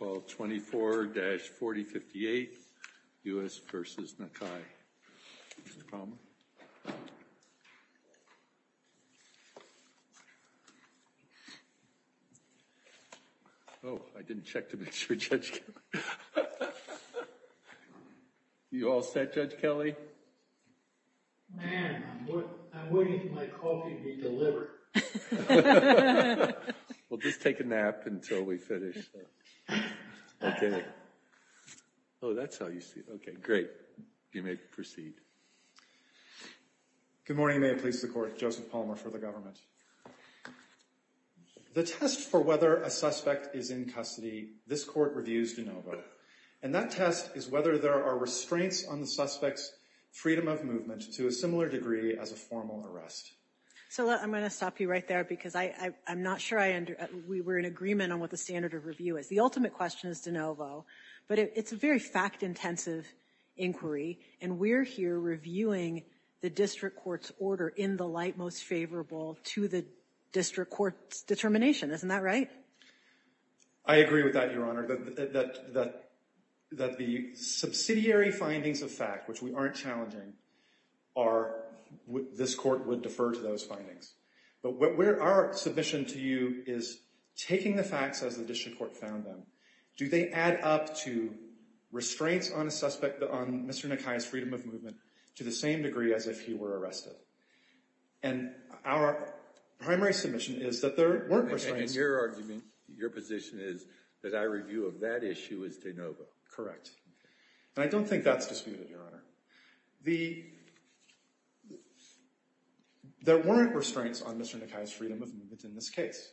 Oh, I didn't check to make sure Judge Kelly. You all set, Judge Kelly? Man, I'm waiting for my coffee to be delivered. We'll just take a nap until we finish. Okay. Oh, that's how you see it. Okay, great. You may proceed. Good morning. May it please the court. Joseph Palmer for the government. The test for whether a suspect is in custody, this court reviews de novo. And that test is whether there are restraints on the suspect's freedom of movement to a similar degree as a formal arrest. So I'm going to stop you right there because I'm not sure we were in agreement on what the standard of review is. The ultimate question is de novo. But it's a very fact intensive inquiry. And we're here reviewing the district court's order in the light most favorable to the district court's determination. Isn't that right? I agree with that, Your Honor, that the subsidiary findings of fact, which we aren't challenging, this court would defer to those findings. But our submission to you is taking the facts as the district court found them, do they add up to restraints on a suspect on Mr. Nakai's freedom of movement to the same degree as if he were arrested? And our primary submission is that there weren't restraints. And your argument, your position is that our review of that issue is de novo. Correct. And I don't think that's disputed, Your Honor. There weren't restraints on Mr. Nakai's freedom of movement in this case.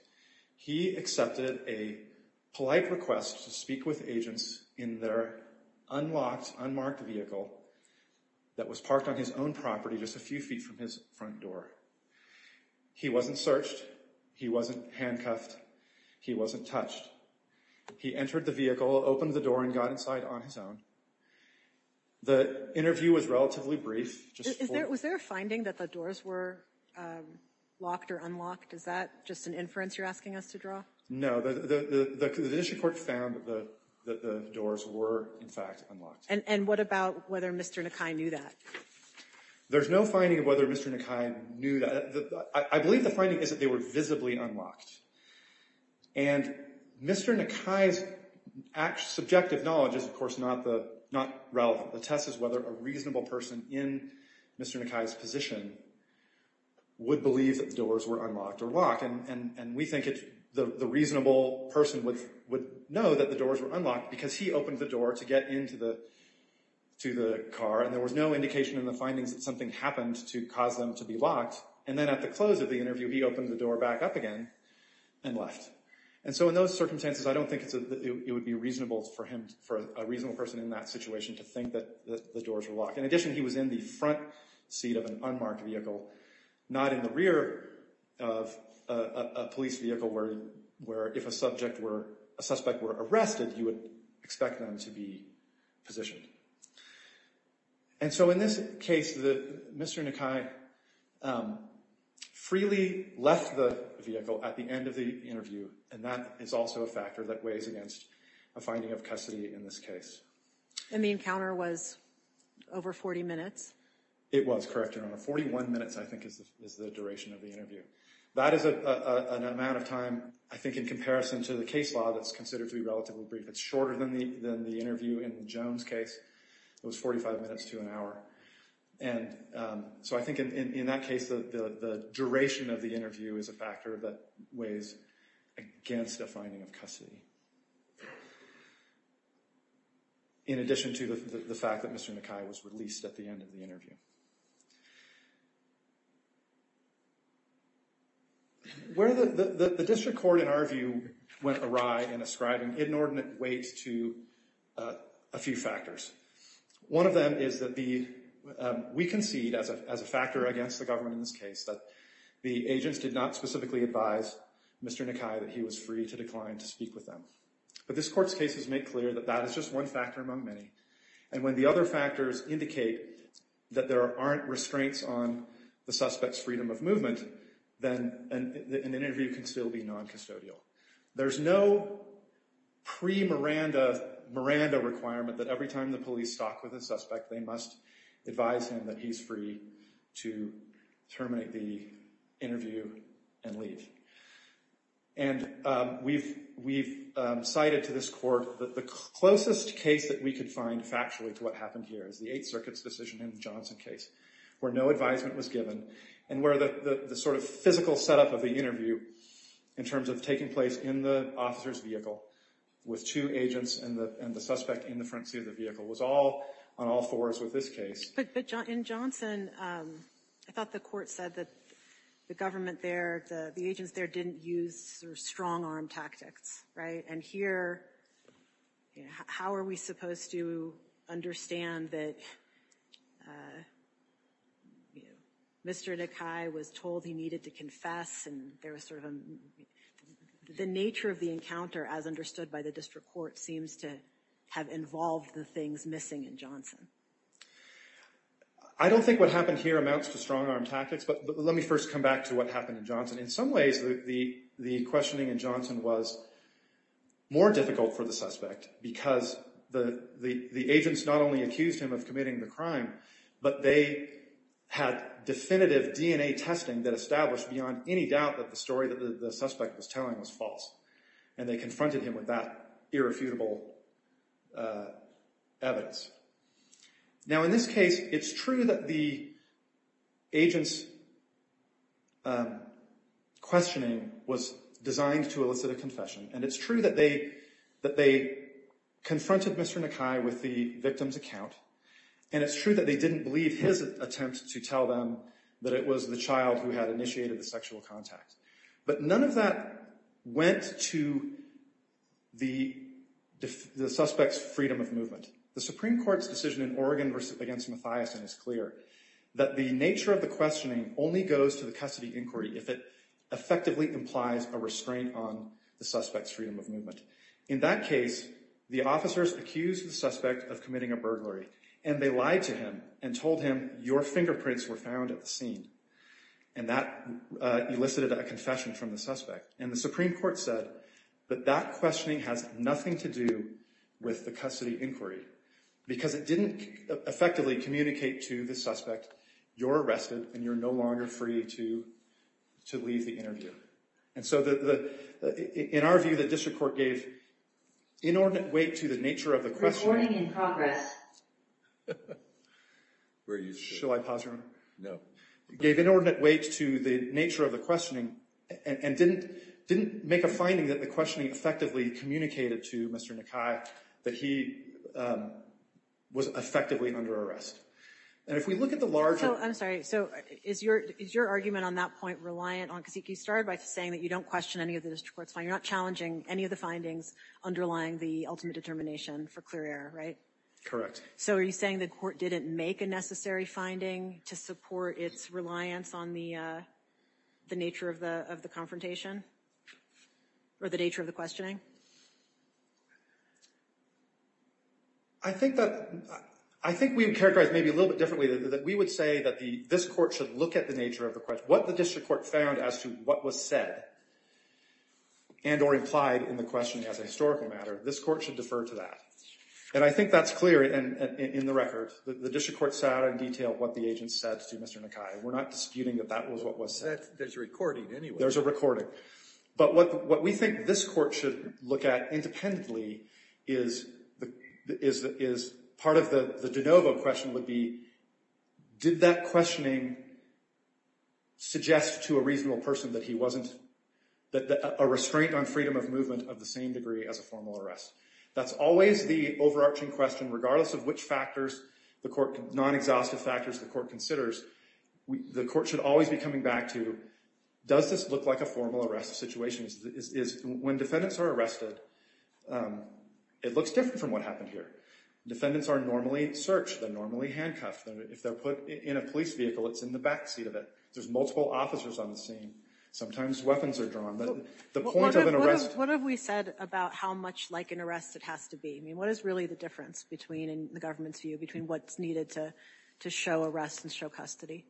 He accepted a polite request to speak with agents in their unlocked, unmarked vehicle that was parked on his own property just a few feet from his front door. He wasn't searched. He wasn't handcuffed. He wasn't touched. He entered the vehicle, opened the door, and got inside on his own. The interview was relatively brief. Was there a finding that the doors were locked or unlocked? Is that just an inference you're asking us to draw? No. The district court found that the doors were, in fact, unlocked. And what about whether Mr. Nakai knew that? There's no finding of whether Mr. Nakai knew that. I believe the finding is that they were visibly unlocked. And Mr. Nakai's subjective knowledge is, of course, not relevant. The test is whether a reasonable person in Mr. Nakai's position would believe that the doors were unlocked or locked. And we think the reasonable person would know that the doors were unlocked because he opened the door to get into the car, and there was no indication in the findings that something happened to cause them to be locked. And then at the close of the interview, he opened the door back up again and left. And so in those circumstances, I don't think it would be reasonable for him, for a reasonable person in that situation, to think that the doors were locked. In addition, he was in the front seat of an unmarked vehicle, not in the rear of a police vehicle where if a suspect were arrested, he would expect them to be positioned. And so in this case, Mr. Nakai freely left the vehicle at the end of the interview, and that is also a factor that weighs against a finding of custody in this case. And the encounter was over 40 minutes? It was, correct, Your Honor. Forty-one minutes, I think, is the duration of the interview. That is an amount of time, I think, in comparison to the case law that's considered to be relatively brief. It's shorter than the interview in Jones' case. It was 45 minutes to an hour. And so I think in that case, the duration of the interview is a factor that weighs against a finding of custody, in addition to the fact that Mr. Nakai was released at the end of the interview. The district court, in our view, went awry in ascribing inordinate weight to a few factors. One of them is that we concede, as a factor against the government in this case, that the agents did not specifically advise Mr. Nakai that he was free to decline to speak with them. But this Court's cases make clear that that is just one factor among many, and when the other factors indicate that there aren't restraints on the suspect's freedom of movement, then an interview can still be noncustodial. There's no pre-Miranda requirement that every time the police talk with a suspect, they must advise him that he's free to terminate the interview and leave. And we've cited to this Court that the closest case that we could find factually to what happened here is the Eighth Circuit's decision in the Johnson case, where no advisement was given, and where the sort of physical setup of the interview, in terms of taking place in the officer's vehicle, with two agents and the suspect in the front seat of the vehicle, was on all fours with this case. But in Johnson, I thought the Court said that the government there, the agents there, didn't use strong-arm tactics, right? And here, how are we supposed to understand that Mr. Nakai was told he needed to confess, and the nature of the encounter, as understood by the District Court, seems to have involved the things missing in Johnson. I don't think what happened here amounts to strong-arm tactics, but let me first come back to what happened in Johnson. In some ways, the questioning in Johnson was more difficult for the suspect, because the agents not only accused him of committing the crime, but they had definitive DNA testing that established, beyond any doubt, that the story that the suspect was telling was false, and they confronted him with that irrefutable evidence. Now, in this case, it's true that the agent's questioning was designed to elicit a confession, and it's true that they confronted Mr. Nakai with the victim's account, and it's true that they didn't believe his attempt to tell them that it was the child who had initiated the sexual contact. But none of that went to the suspect's freedom of movement. The Supreme Court's decision in Oregon v. Mathiason is clear, that the nature of the questioning only goes to the custody inquiry if it effectively implies a restraint on the suspect's freedom of movement. In that case, the officers accused the suspect of committing a burglary, and they lied to him and told him, your fingerprints were found at the scene, and that elicited a confession from the suspect. And the Supreme Court said, but that questioning has nothing to do with the custody inquiry, because it didn't effectively communicate to the suspect, you're arrested and you're no longer free to leave the interview. And so in our view, the district court gave inordinate weight to the nature of the questioning. Recording in progress. Shall I pause here? No. Gave inordinate weight to the nature of the questioning, and didn't make a finding that the questioning effectively communicated to Mr. Nakai that he was effectively under arrest. And if we look at the large... I'm sorry. So is your argument on that point reliant on... Because you started by saying that you don't question any of the district court's findings. You're not challenging any of the findings underlying the ultimate determination for clear error, right? Correct. So are you saying the court didn't make a necessary finding to support its reliance on the nature of the confrontation, or the nature of the questioning? I think we would characterize it maybe a little bit differently. We would say that this court should look at the nature of the question. What the district court found as to what was said and or implied in the question as a historical matter, this court should defer to that. And I think that's clear in the record. The district court sat out in detail what the agent said to Mr. Nakai. We're not disputing that that was what was said. There's a recording anyway. There's a recording. But what we think this court should look at independently is part of the de novo question would be, did that questioning suggest to a reasonable person that a restraint on freedom of movement of the same degree as a formal arrest? That's always the overarching question, regardless of which factors, non-exhaustive factors the court considers. The court should always be coming back to, does this look like a formal arrest situation? When defendants are arrested, it looks different from what happened here. Defendants are normally searched. They're normally handcuffed. If they're put in a police vehicle, it's in the backseat of it. There's multiple officers on the scene. Sometimes weapons are drawn. What have we said about how much like an arrest it has to be? I mean, what is really the difference between, in the government's view, between what's needed to show arrest and show custody?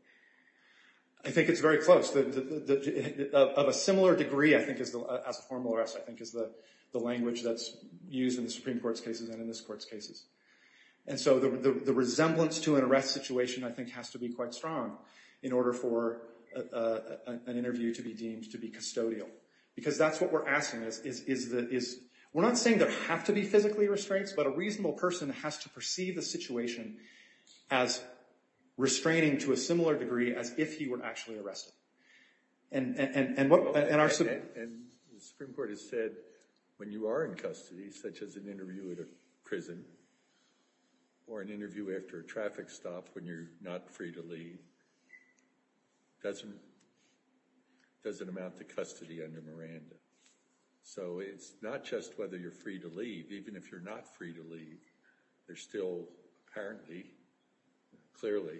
I think it's very close. Of a similar degree, I think, as a formal arrest, I think is the language that's used in the Supreme Court's cases and in this court's cases. And so the resemblance to an arrest situation, I think, has to be quite strong in order for an interview to be deemed to be custodial, because that's what we're asking is, we're not saying there have to be physically restraints, but a reasonable person has to perceive the situation as restraining to a similar degree as if he were actually arrested. The Supreme Court has said when you are in custody, such as an interview at a prison or an interview after a traffic stop when you're not free to leave, doesn't amount to custody under Miranda. So it's not just whether you're free to leave. Even if you're not free to leave, there's still apparently, clearly,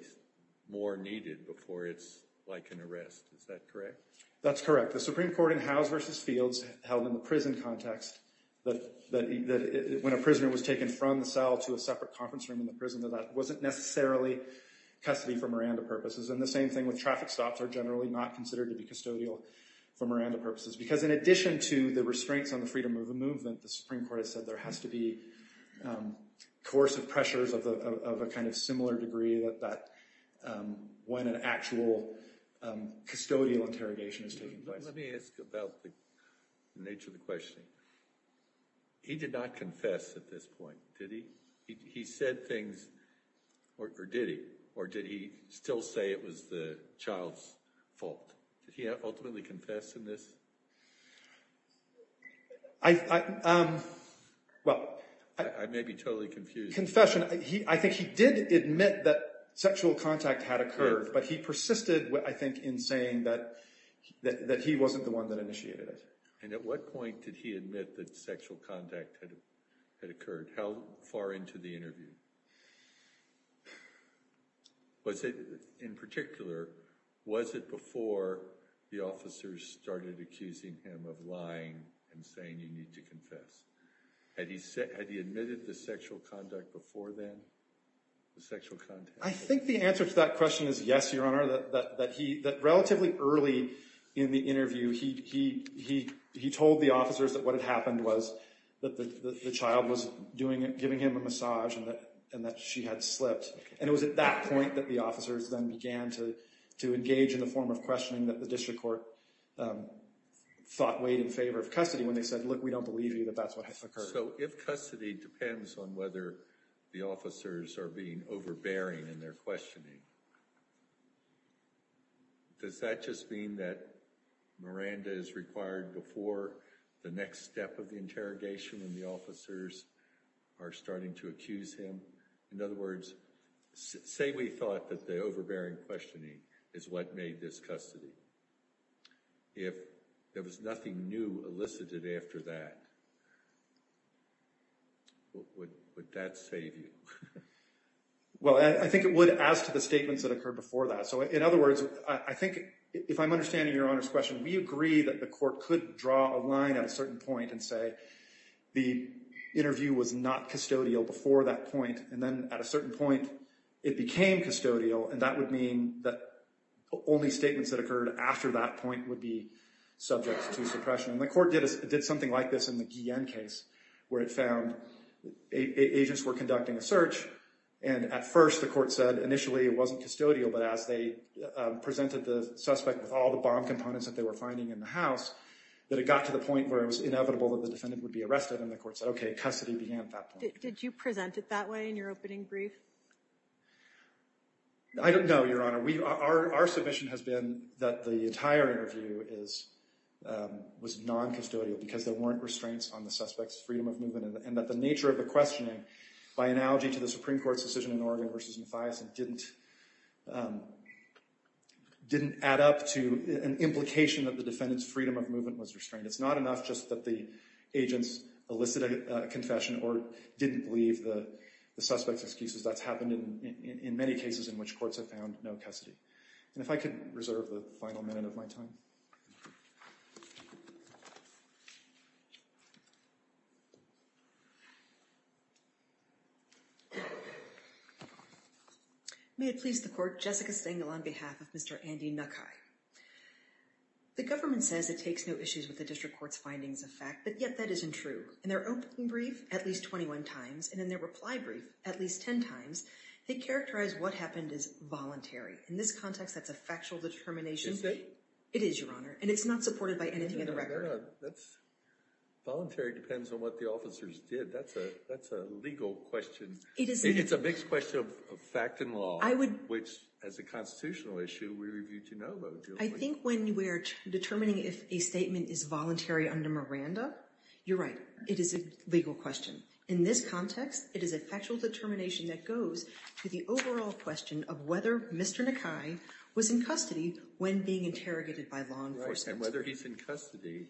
more needed before it's like an arrest. Is that correct? That's correct. The Supreme Court in Howes v. Fields held in the prison context that when a prisoner was taken from the cell to a separate conference room in the prison, that that wasn't necessarily custody for Miranda purposes. And the same thing with traffic stops are generally not considered to be custodial for Miranda purposes. Because in addition to the restraints on the freedom of movement, the Supreme Court has said there has to be coercive pressures of a kind of similar degree that when an actual custodial interrogation is taking place. Let me ask about the nature of the questioning. He did not confess at this point, did he? He said things, or did he? Or did he still say it was the child's fault? Did he ultimately confess in this? I may be totally confused. I think he did admit that sexual contact had occurred, but he persisted, I think, in saying that he wasn't the one that initiated it. And at what point did he admit that sexual contact had occurred? How far into the interview? Was it, in particular, was it before the officers started accusing him of lying and saying you need to confess? Had he admitted to sexual conduct before then? The sexual contact? I think the answer to that question is yes, Your Honor. That relatively early in the interview, he told the officers that what had happened was that the child was giving him a massage and that she had slipped. And it was at that point that the officers then began to engage in the form of questioning that the district court thought weighed in favor of custody when they said, look, we don't believe you that that's what has occurred. So if custody depends on whether the officers are being overbearing in their questioning, does that just mean that Miranda is required before the next step of the interrogation when the officers are starting to accuse him? In other words, say we thought that the overbearing questioning is what made this custody. If there was nothing new elicited after that, would that save you? Well, I think it would as to the statements that occurred before that. So in other words, I think if I'm understanding Your Honor's question, we agree that the court could draw a line at a certain point and say the interview was not custodial before that point, and then at a certain point it became custodial, and that would mean that only statements that occurred after that point would be subject to suppression. And the court did something like this in the Guillen case where it found agents were conducting a search, and at first the court said initially it wasn't custodial, but as they presented the suspect with all the bomb components that they were finding in the house, that it got to the point where it was inevitable that the defendant would be arrested, and the court said, okay, custody began at that point. Did you present it that way in your opening brief? I don't know, Your Honor. Our submission has been that the entire interview was non-custodial because there weren't restraints on the suspect's freedom of movement, and that the nature of the questioning, by analogy to the Supreme Court's decision in Oregon v. Mathias, didn't add up to an implication that the defendant's freedom of movement was restrained. It's not enough just that the agents elicited a confession or didn't believe the suspect's excuses. That's happened in many cases in which courts have found no custody. And if I could reserve the final minute of my time. May it please the Court. Jessica Stengel on behalf of Mr. Andy Nukai. The government says it takes no issues with the district court's findings of fact, but yet that isn't true. In their opening brief, at least 21 times, and in their reply brief, at least 10 times, they characterize what happened as voluntary. In this context, that's a factual determination. It is, Your Honor. And it's not supported by anything in the record. Voluntary depends on what the officers did. That's a legal question. It's a mixed question of fact and law, which, as a constitutional issue, we review de novo. I think when we're determining if a statement is voluntary under Miranda, you're right, it is a legal question. In this context, it is a factual determination that goes to the overall question of whether Mr. Nukai was in custody when being interrogated by law enforcement. And whether he's in custody,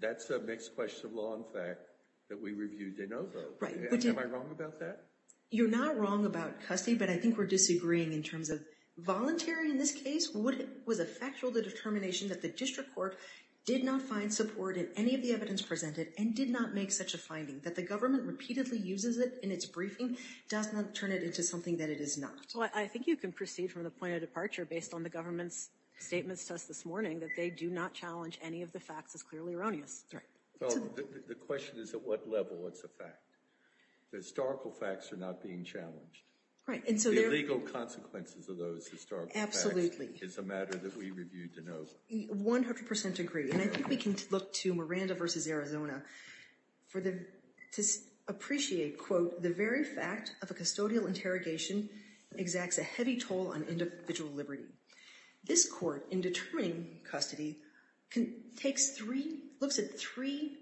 that's a mixed question of law and fact that we review de novo. Am I wrong about that? You're not wrong about custody, but I think we're disagreeing in terms of voluntary in this case. Was a factual determination that the district court did not find support in any of the evidence presented and did not make such a finding that the government repeatedly uses it in its briefing does not turn it into something that it is not? Well, I think you can proceed from the point of departure based on the government's statements to us this morning that they do not challenge any of the facts as clearly erroneous. The question is at what level it's a fact. The historical facts are not being challenged. The illegal consequences of those historical facts is a matter that we review de novo. I 100% agree. And I think we can look to Miranda v. Arizona to appreciate, quote, the very fact of a custodial interrogation exacts a heavy toll on individual liberty. This court, in determining custody, consistently looks at three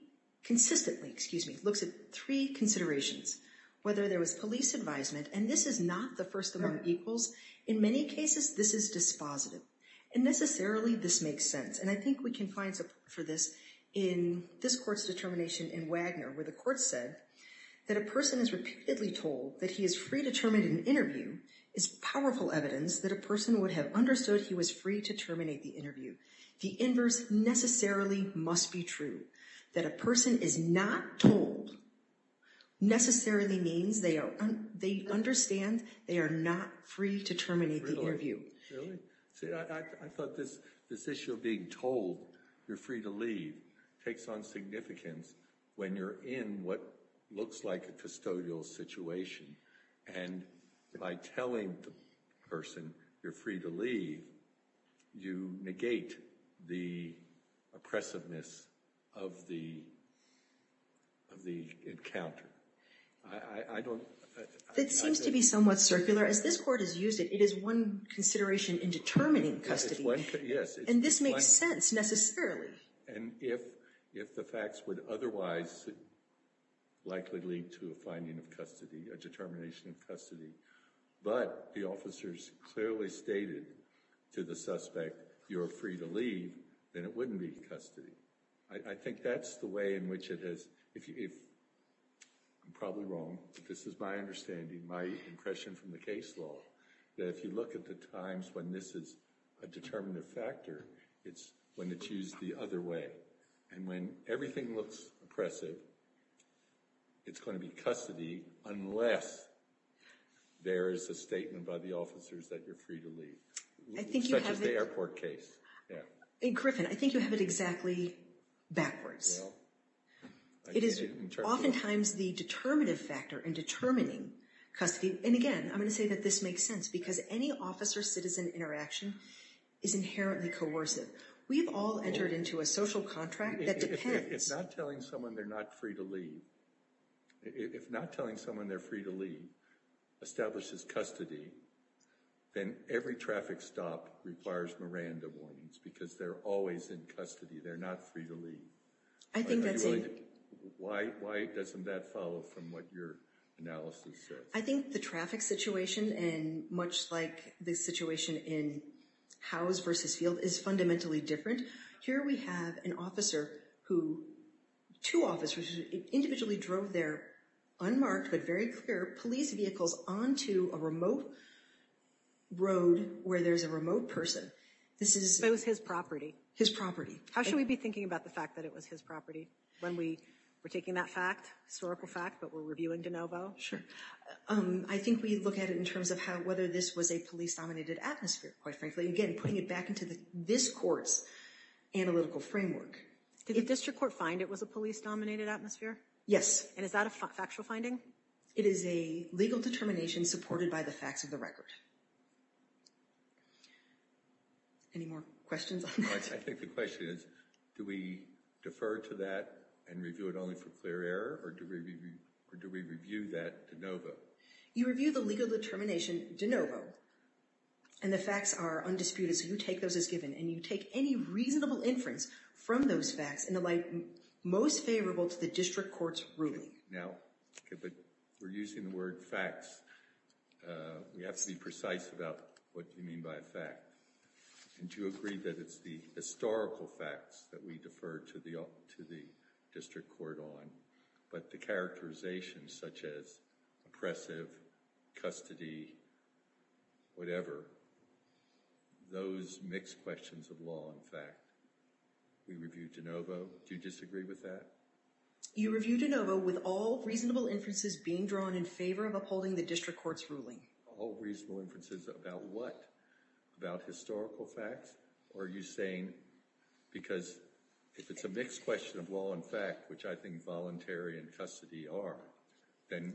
considerations. Whether there was police advisement, and this is not the first among equals. In many cases, this is dispositive. And necessarily, this makes sense. And I think we can find support for this in this court's determination in Wagner, where the court said that a person is repeatedly told that he is free to terminate an interview is powerful evidence that a person would have understood he was free to terminate the interview. The inverse necessarily must be true. That a person is not told necessarily means they understand they are not free to terminate the interview. I thought this issue of being told you're free to leave takes on significance when you're in what looks like a custodial situation. And by telling the person you're free to leave, you negate the oppressiveness of the encounter. I don't... It seems to be somewhat circular. As this court has used it, it is one consideration in determining custody. And this makes sense, necessarily. And if the facts would otherwise likely lead to a finding of custody, a determination of custody, but the officers clearly stated to the suspect you're free to leave, then it wouldn't be custody. I think that's the way in which it has... I'm probably wrong, but this is my understanding, my impression from the case law that if you look at the times when this is a determinative factor, it's when it's used the other way. And when everything looks oppressive, it's going to be custody unless there is a statement by the officers that you're free to leave, such as the airport case. Griffin, I think you have it exactly backwards. It is oftentimes the determinative factor in determining custody. And again, I'm going to say that this makes sense because any officer-citizen interaction is inherently coercive. We've all entered into a social contract that depends... If not telling someone they're free to leave establishes custody, then every traffic stop requires Miranda warnings because they're always in custody. They're not free to leave. I think that's... Why doesn't that follow from what your analysis says? I think the traffic situation and much like the situation in Howes v. Field is fundamentally different. Here we have an officer who... Two officers individually drove their unmarked but very clear police vehicles onto a remote road where there's a remote person. That was his property. His property. How should we be thinking about the fact that it was his property when we're taking that fact, historical fact, but we're reviewing DeNovo? Sure. I think we look at it in terms of whether this was a police dominated atmosphere, quite frankly. Again, putting it back into this court's analytical framework. Did the district court find it was a police dominated atmosphere? Yes. And is that a factual finding? It is a legal determination supported by the facts of the record. Any more questions on that? I think the question is, do we defer to that and review it only for clear error or do we review that DeNovo? You review the legal determination DeNovo and the facts are undisputed so you take those as given and you take any reasonable inference from those facts in the light most favorable to the district court's ruling. Now, we're using the word facts. We have to be precise about what you mean by a fact. And do you agree that it's the historical facts that we defer to the district court on but the characterization such as oppressive, custody, whatever. Those mixed questions of law and fact. We review DeNovo. Do you disagree with that? You review DeNovo with all reasonable inferences being drawn in favor of upholding the district court's ruling. All reasonable inferences about what? About historical facts? Or are you saying because if it's a mixed question of law and fact, which I think voluntary and custody are, then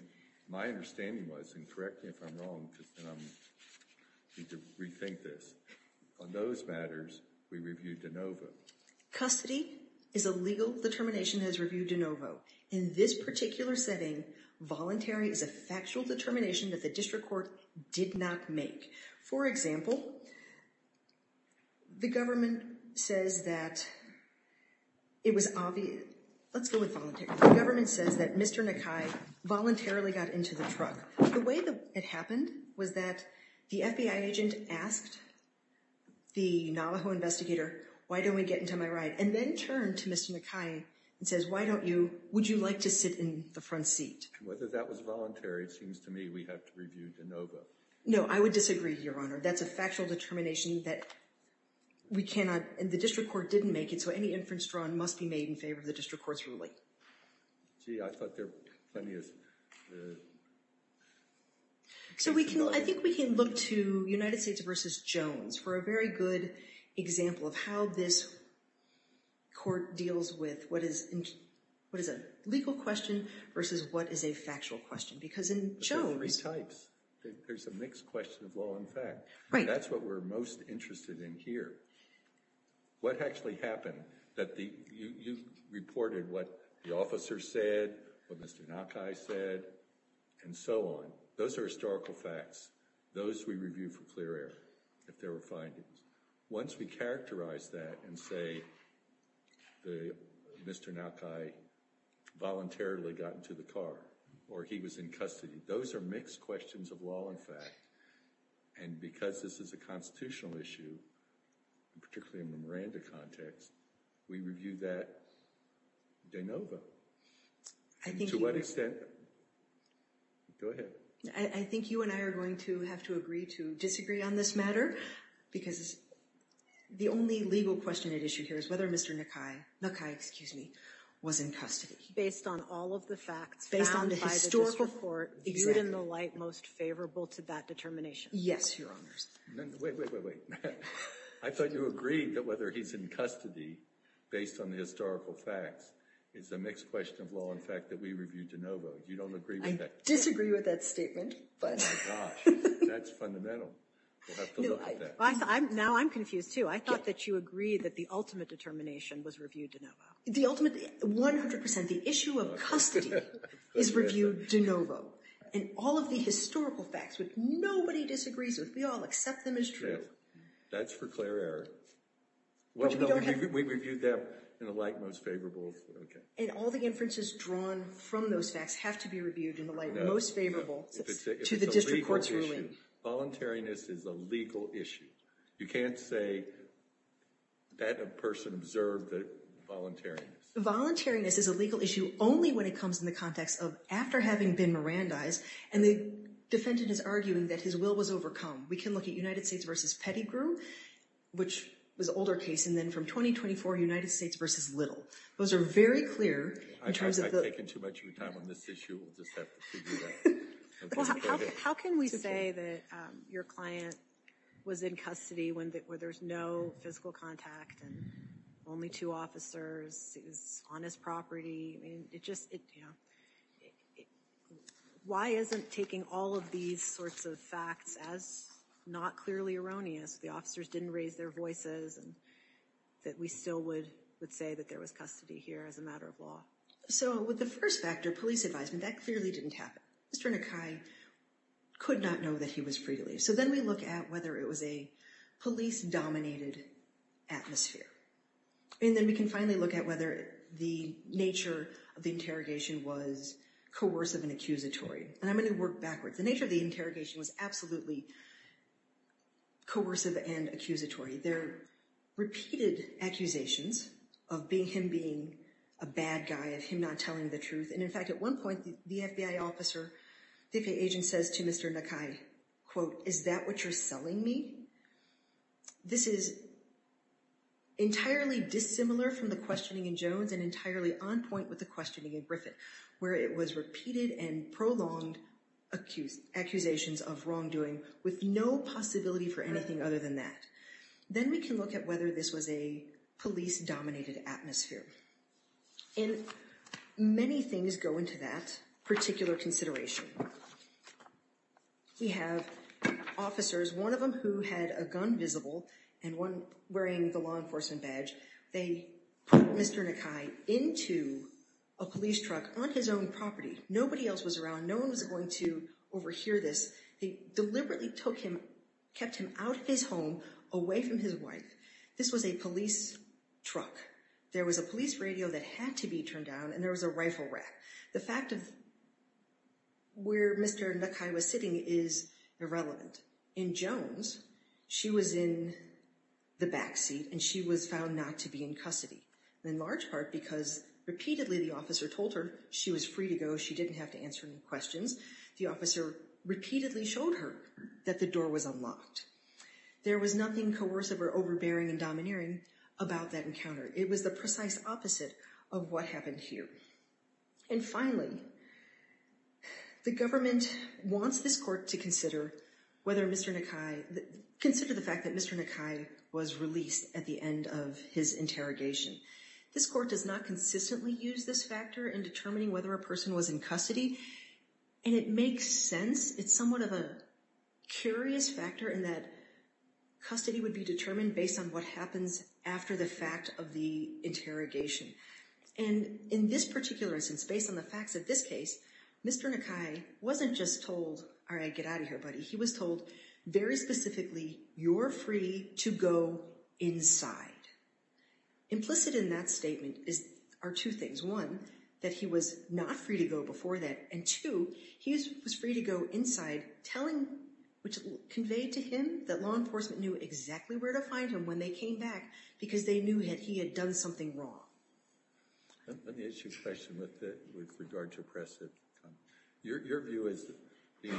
my understanding was, and correct me if I'm wrong because then I need to rethink this. On those matters, we review DeNovo. Custody is a legal determination that is reviewed DeNovo. In this particular setting, voluntary is a factual determination that the district court did not make. For example, the government says that it was obvious. Let's go with voluntary. The government says that Mr. Nakai voluntarily got into the truck. The way that it happened was that the FBI agent asked the Navajo investigator, why don't we get into my ride? And then turned to Mr. Nakai and says, why don't you, would you like to sit in the front seat? Whether that was voluntary, it seems to me we have to review DeNovo. No, I would disagree, Your Honor. That's a factual determination that we cannot, and the district court didn't make it, so any inference drawn must be made in favor of the district court's ruling. Gee, I thought there were plenty of... I think we can look to United States v. Jones for a very good example of how this court deals with what is a legal question versus what is a factual question. But there are three types. There's a mixed question of law and fact, and that's what we're most interested in here. What actually happened? You reported what the officer said, what Mr. Nakai said, and so on. Those are historical facts. Those we review for clear air, if there were findings. Once we characterize that and say Mr. Nakai voluntarily got into the car or he was in custody, those are mixed questions of law and fact. And because this is a constitutional issue, particularly in the Miranda context, we review that DeNovo. To what extent? Go ahead. I think you and I are going to have to agree to disagree on this matter because the only legal question at issue here is whether Mr. Nakai was in custody. Based on all of the facts found by the district court, viewed in the light most favorable to that determination? Yes, Your Honors. I thought you agreed that whether he's in custody based on the historical facts is a mixed question of law and fact that we reviewed DeNovo. You don't agree with that? I disagree with that statement. That's fundamental. Now I'm confused too. I thought that you agreed that the ultimate determination was reviewed DeNovo. The ultimate, 100%, the issue of custody is reviewed DeNovo. And all of the historical facts, which nobody disagrees with, we all accept them as true. That's for clear air. We reviewed them in the light most favorable. And all the inferences drawn from those facts have to be reviewed in the light most favorable to the district court's ruling. Voluntariness is a legal issue. You can't say that a person observed the voluntariness. Voluntariness is a legal issue only when it comes in the context of after having been Mirandized and the defendant is arguing that his will was overcome. We can look at United States v. Pettigrew, which was an older case, and then from 2024 United States v. Little. Those are very clear. I've taken too much of your time on this issue. We'll just have to figure that out. How can we say that your client was in custody when there was no physical contact and only two officers. It was on his property. It just, you know, why isn't taking all of these sorts of facts as not clearly erroneous? The officers didn't raise their voices and that we still would say that there was custody here as a matter of law. So with the first factor, police advisement, that clearly didn't happen. Mr. Nakai could not know that he was free to leave. So then we look at whether it was a police-dominated atmosphere. And then we can finally look at whether the nature of the interrogation was coercive and accusatory. And I'm going to work backwards. The nature of the interrogation was absolutely coercive and accusatory. There were repeated accusations of him being a bad guy, of him not telling the truth. And in fact, at one point, the FBI officer, the agent says to Mr. Nakai, quote, is that what you're selling me? This is entirely dissimilar from the questioning in Jones and entirely on point with the questioning in Griffith, where it was repeated and prolonged accusations of wrongdoing with no possibility for anything other than that. Then we can look at whether this was a police-dominated atmosphere. And many things go into that particular consideration. We have officers, one of them who had a gun visible and one wearing the law enforcement badge. They put Mr. Nakai into a police truck on his own property. Nobody else was around. No one was going to overhear this. They deliberately kept him out of his home, away from his wife. This was a police truck. There was a police radio that had to be turned down and there was a rifle rack. The fact of where Mr. Nakai was sitting is irrelevant. In Jones, she was in the backseat and she was found not to be in custody. In large part because repeatedly the officer told her she was free to go, she didn't have to answer any questions. The officer repeatedly showed her that the door was unlocked. There was nothing coercive or overbearing and domineering about that encounter. It was the precise opposite of what happened here. And finally, the government wants this court to consider whether Mr. Nakai, consider the fact that Mr. Nakai was released at the end of his interrogation. This court does not consistently use this factor in determining whether a person was in custody. And it makes sense. It's somewhat of a curious factor in that custody would be determined based on what happens after the fact of the interrogation. And in this particular instance, based on the facts of this case, Mr. Nakai wasn't just told, alright, get out of here buddy. He was told very specifically, you're free to go inside. Implicit in that statement are two things. One, that he was not free to go before that. And two, he was free to go inside, telling, which conveyed to him that law enforcement knew exactly where to find him when they came back because they knew that he had done something wrong. Let me ask you a question with regard to oppressive. Your view is the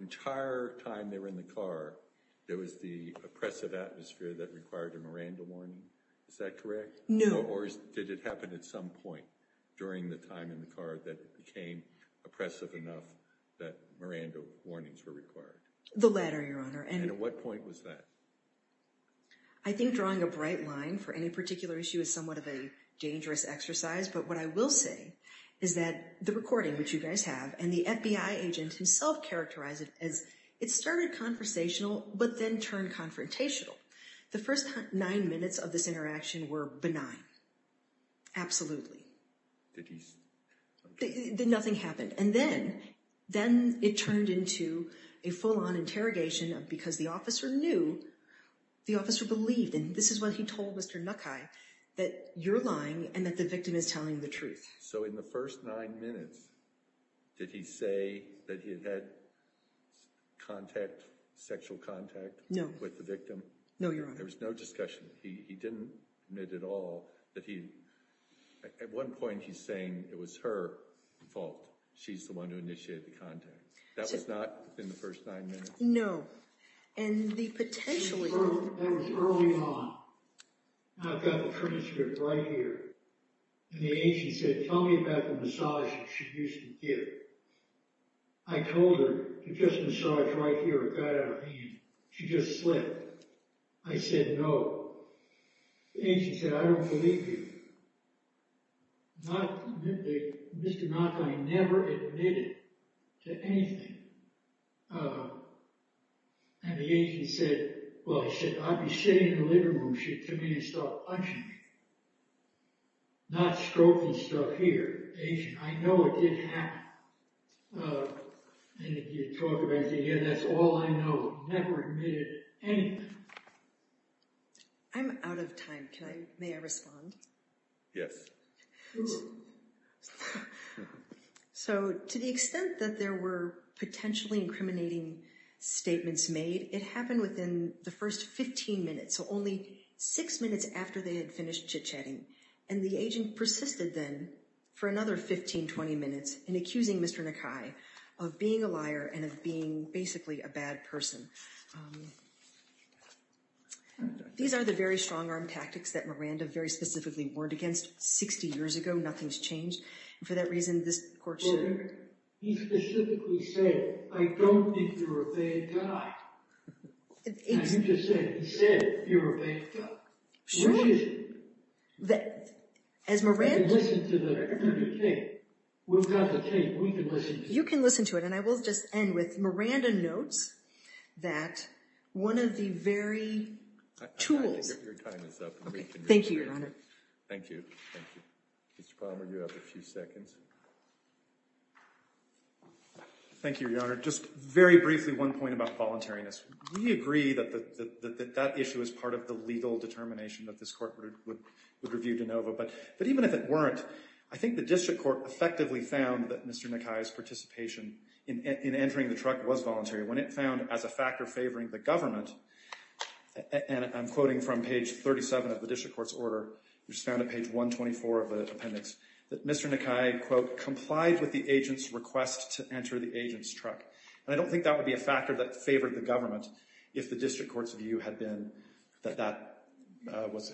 entire time they were in the car there was the oppressive atmosphere that required a Miranda warning. Is that correct? No. Or did it happen at some point during the time in the car that it became oppressive enough that Miranda warnings were required? The latter, Your Honor. And at what point was that? I think drawing a bright line for any particular issue is somewhat of a dangerous exercise. But what I will say is that the recording, which you guys have, and the FBI agent himself have characterized it as, it started conversational but then turned confrontational. The first nine minutes of this interaction were benign. Absolutely. Did he? Nothing happened. And then it turned into a full-on interrogation because the officer knew, the officer believed, and this is when he told Mr. Nukai that you're lying and that the victim is telling the truth. So in the first nine minutes did he say that he had had contact, sexual contact, with the victim? No, Your Honor. There was no discussion. He didn't admit at all that he, at one point he's saying it was her fault. She's the one who initiated the contact. That was not in the first nine minutes? No. And the potential... That was early on. I've got the transcript right here. The agent said tell me about the massage that she used to give. I told her to just massage right here it got out of hand. She just slipped. I said no. The agent said I don't believe you. Mr. Nukai never admitted to anything. And the agent said, well he said I'd be sitting in the living room if she'd come in and stop punching me. Not stroking stuff here, agent. I know it did happen. And if you talk about it again, that's all I know. Never admitted anything. I'm out of time. May I respond? Yes. So to the extent that there were potentially incriminating statements made it happened within the first 15 minutes. So only six minutes after they had finished chit chatting. And the agent persisted then for another 15-20 minutes in accusing Mr. Nukai of being a liar and of being basically a bad person. These are the very strong arm tactics that Miranda very specifically warned against 60 years ago. Nothing's changed. And for that reason this court should... He specifically said I don't think you're a bad guy. And you just said it. He said it. You're a bad guy. You can listen to the record. We've got the tape. We can listen to it. You can listen to it. And I will just end with Miranda notes that one of the very tools... Your time is up. Thank you, Your Honor. Mr. Palmer, you have a few seconds. Thank you, Your Honor. Just very briefly, one point about voluntariness. We agree that that issue is part of the legal determination that this court would review de novo. But even if it weren't, I think the district court effectively found that Mr. Nukai's participation in entering the truck was voluntary when it found as a factor favoring the government and I'm quoting from page 37 of the district court's order, which is found at page 124 of the appendix, that Mr. Nukai complied with the agent's request to enter the agent's truck. And I don't think that would be a factor that favored the government if the district court's view had been that that was...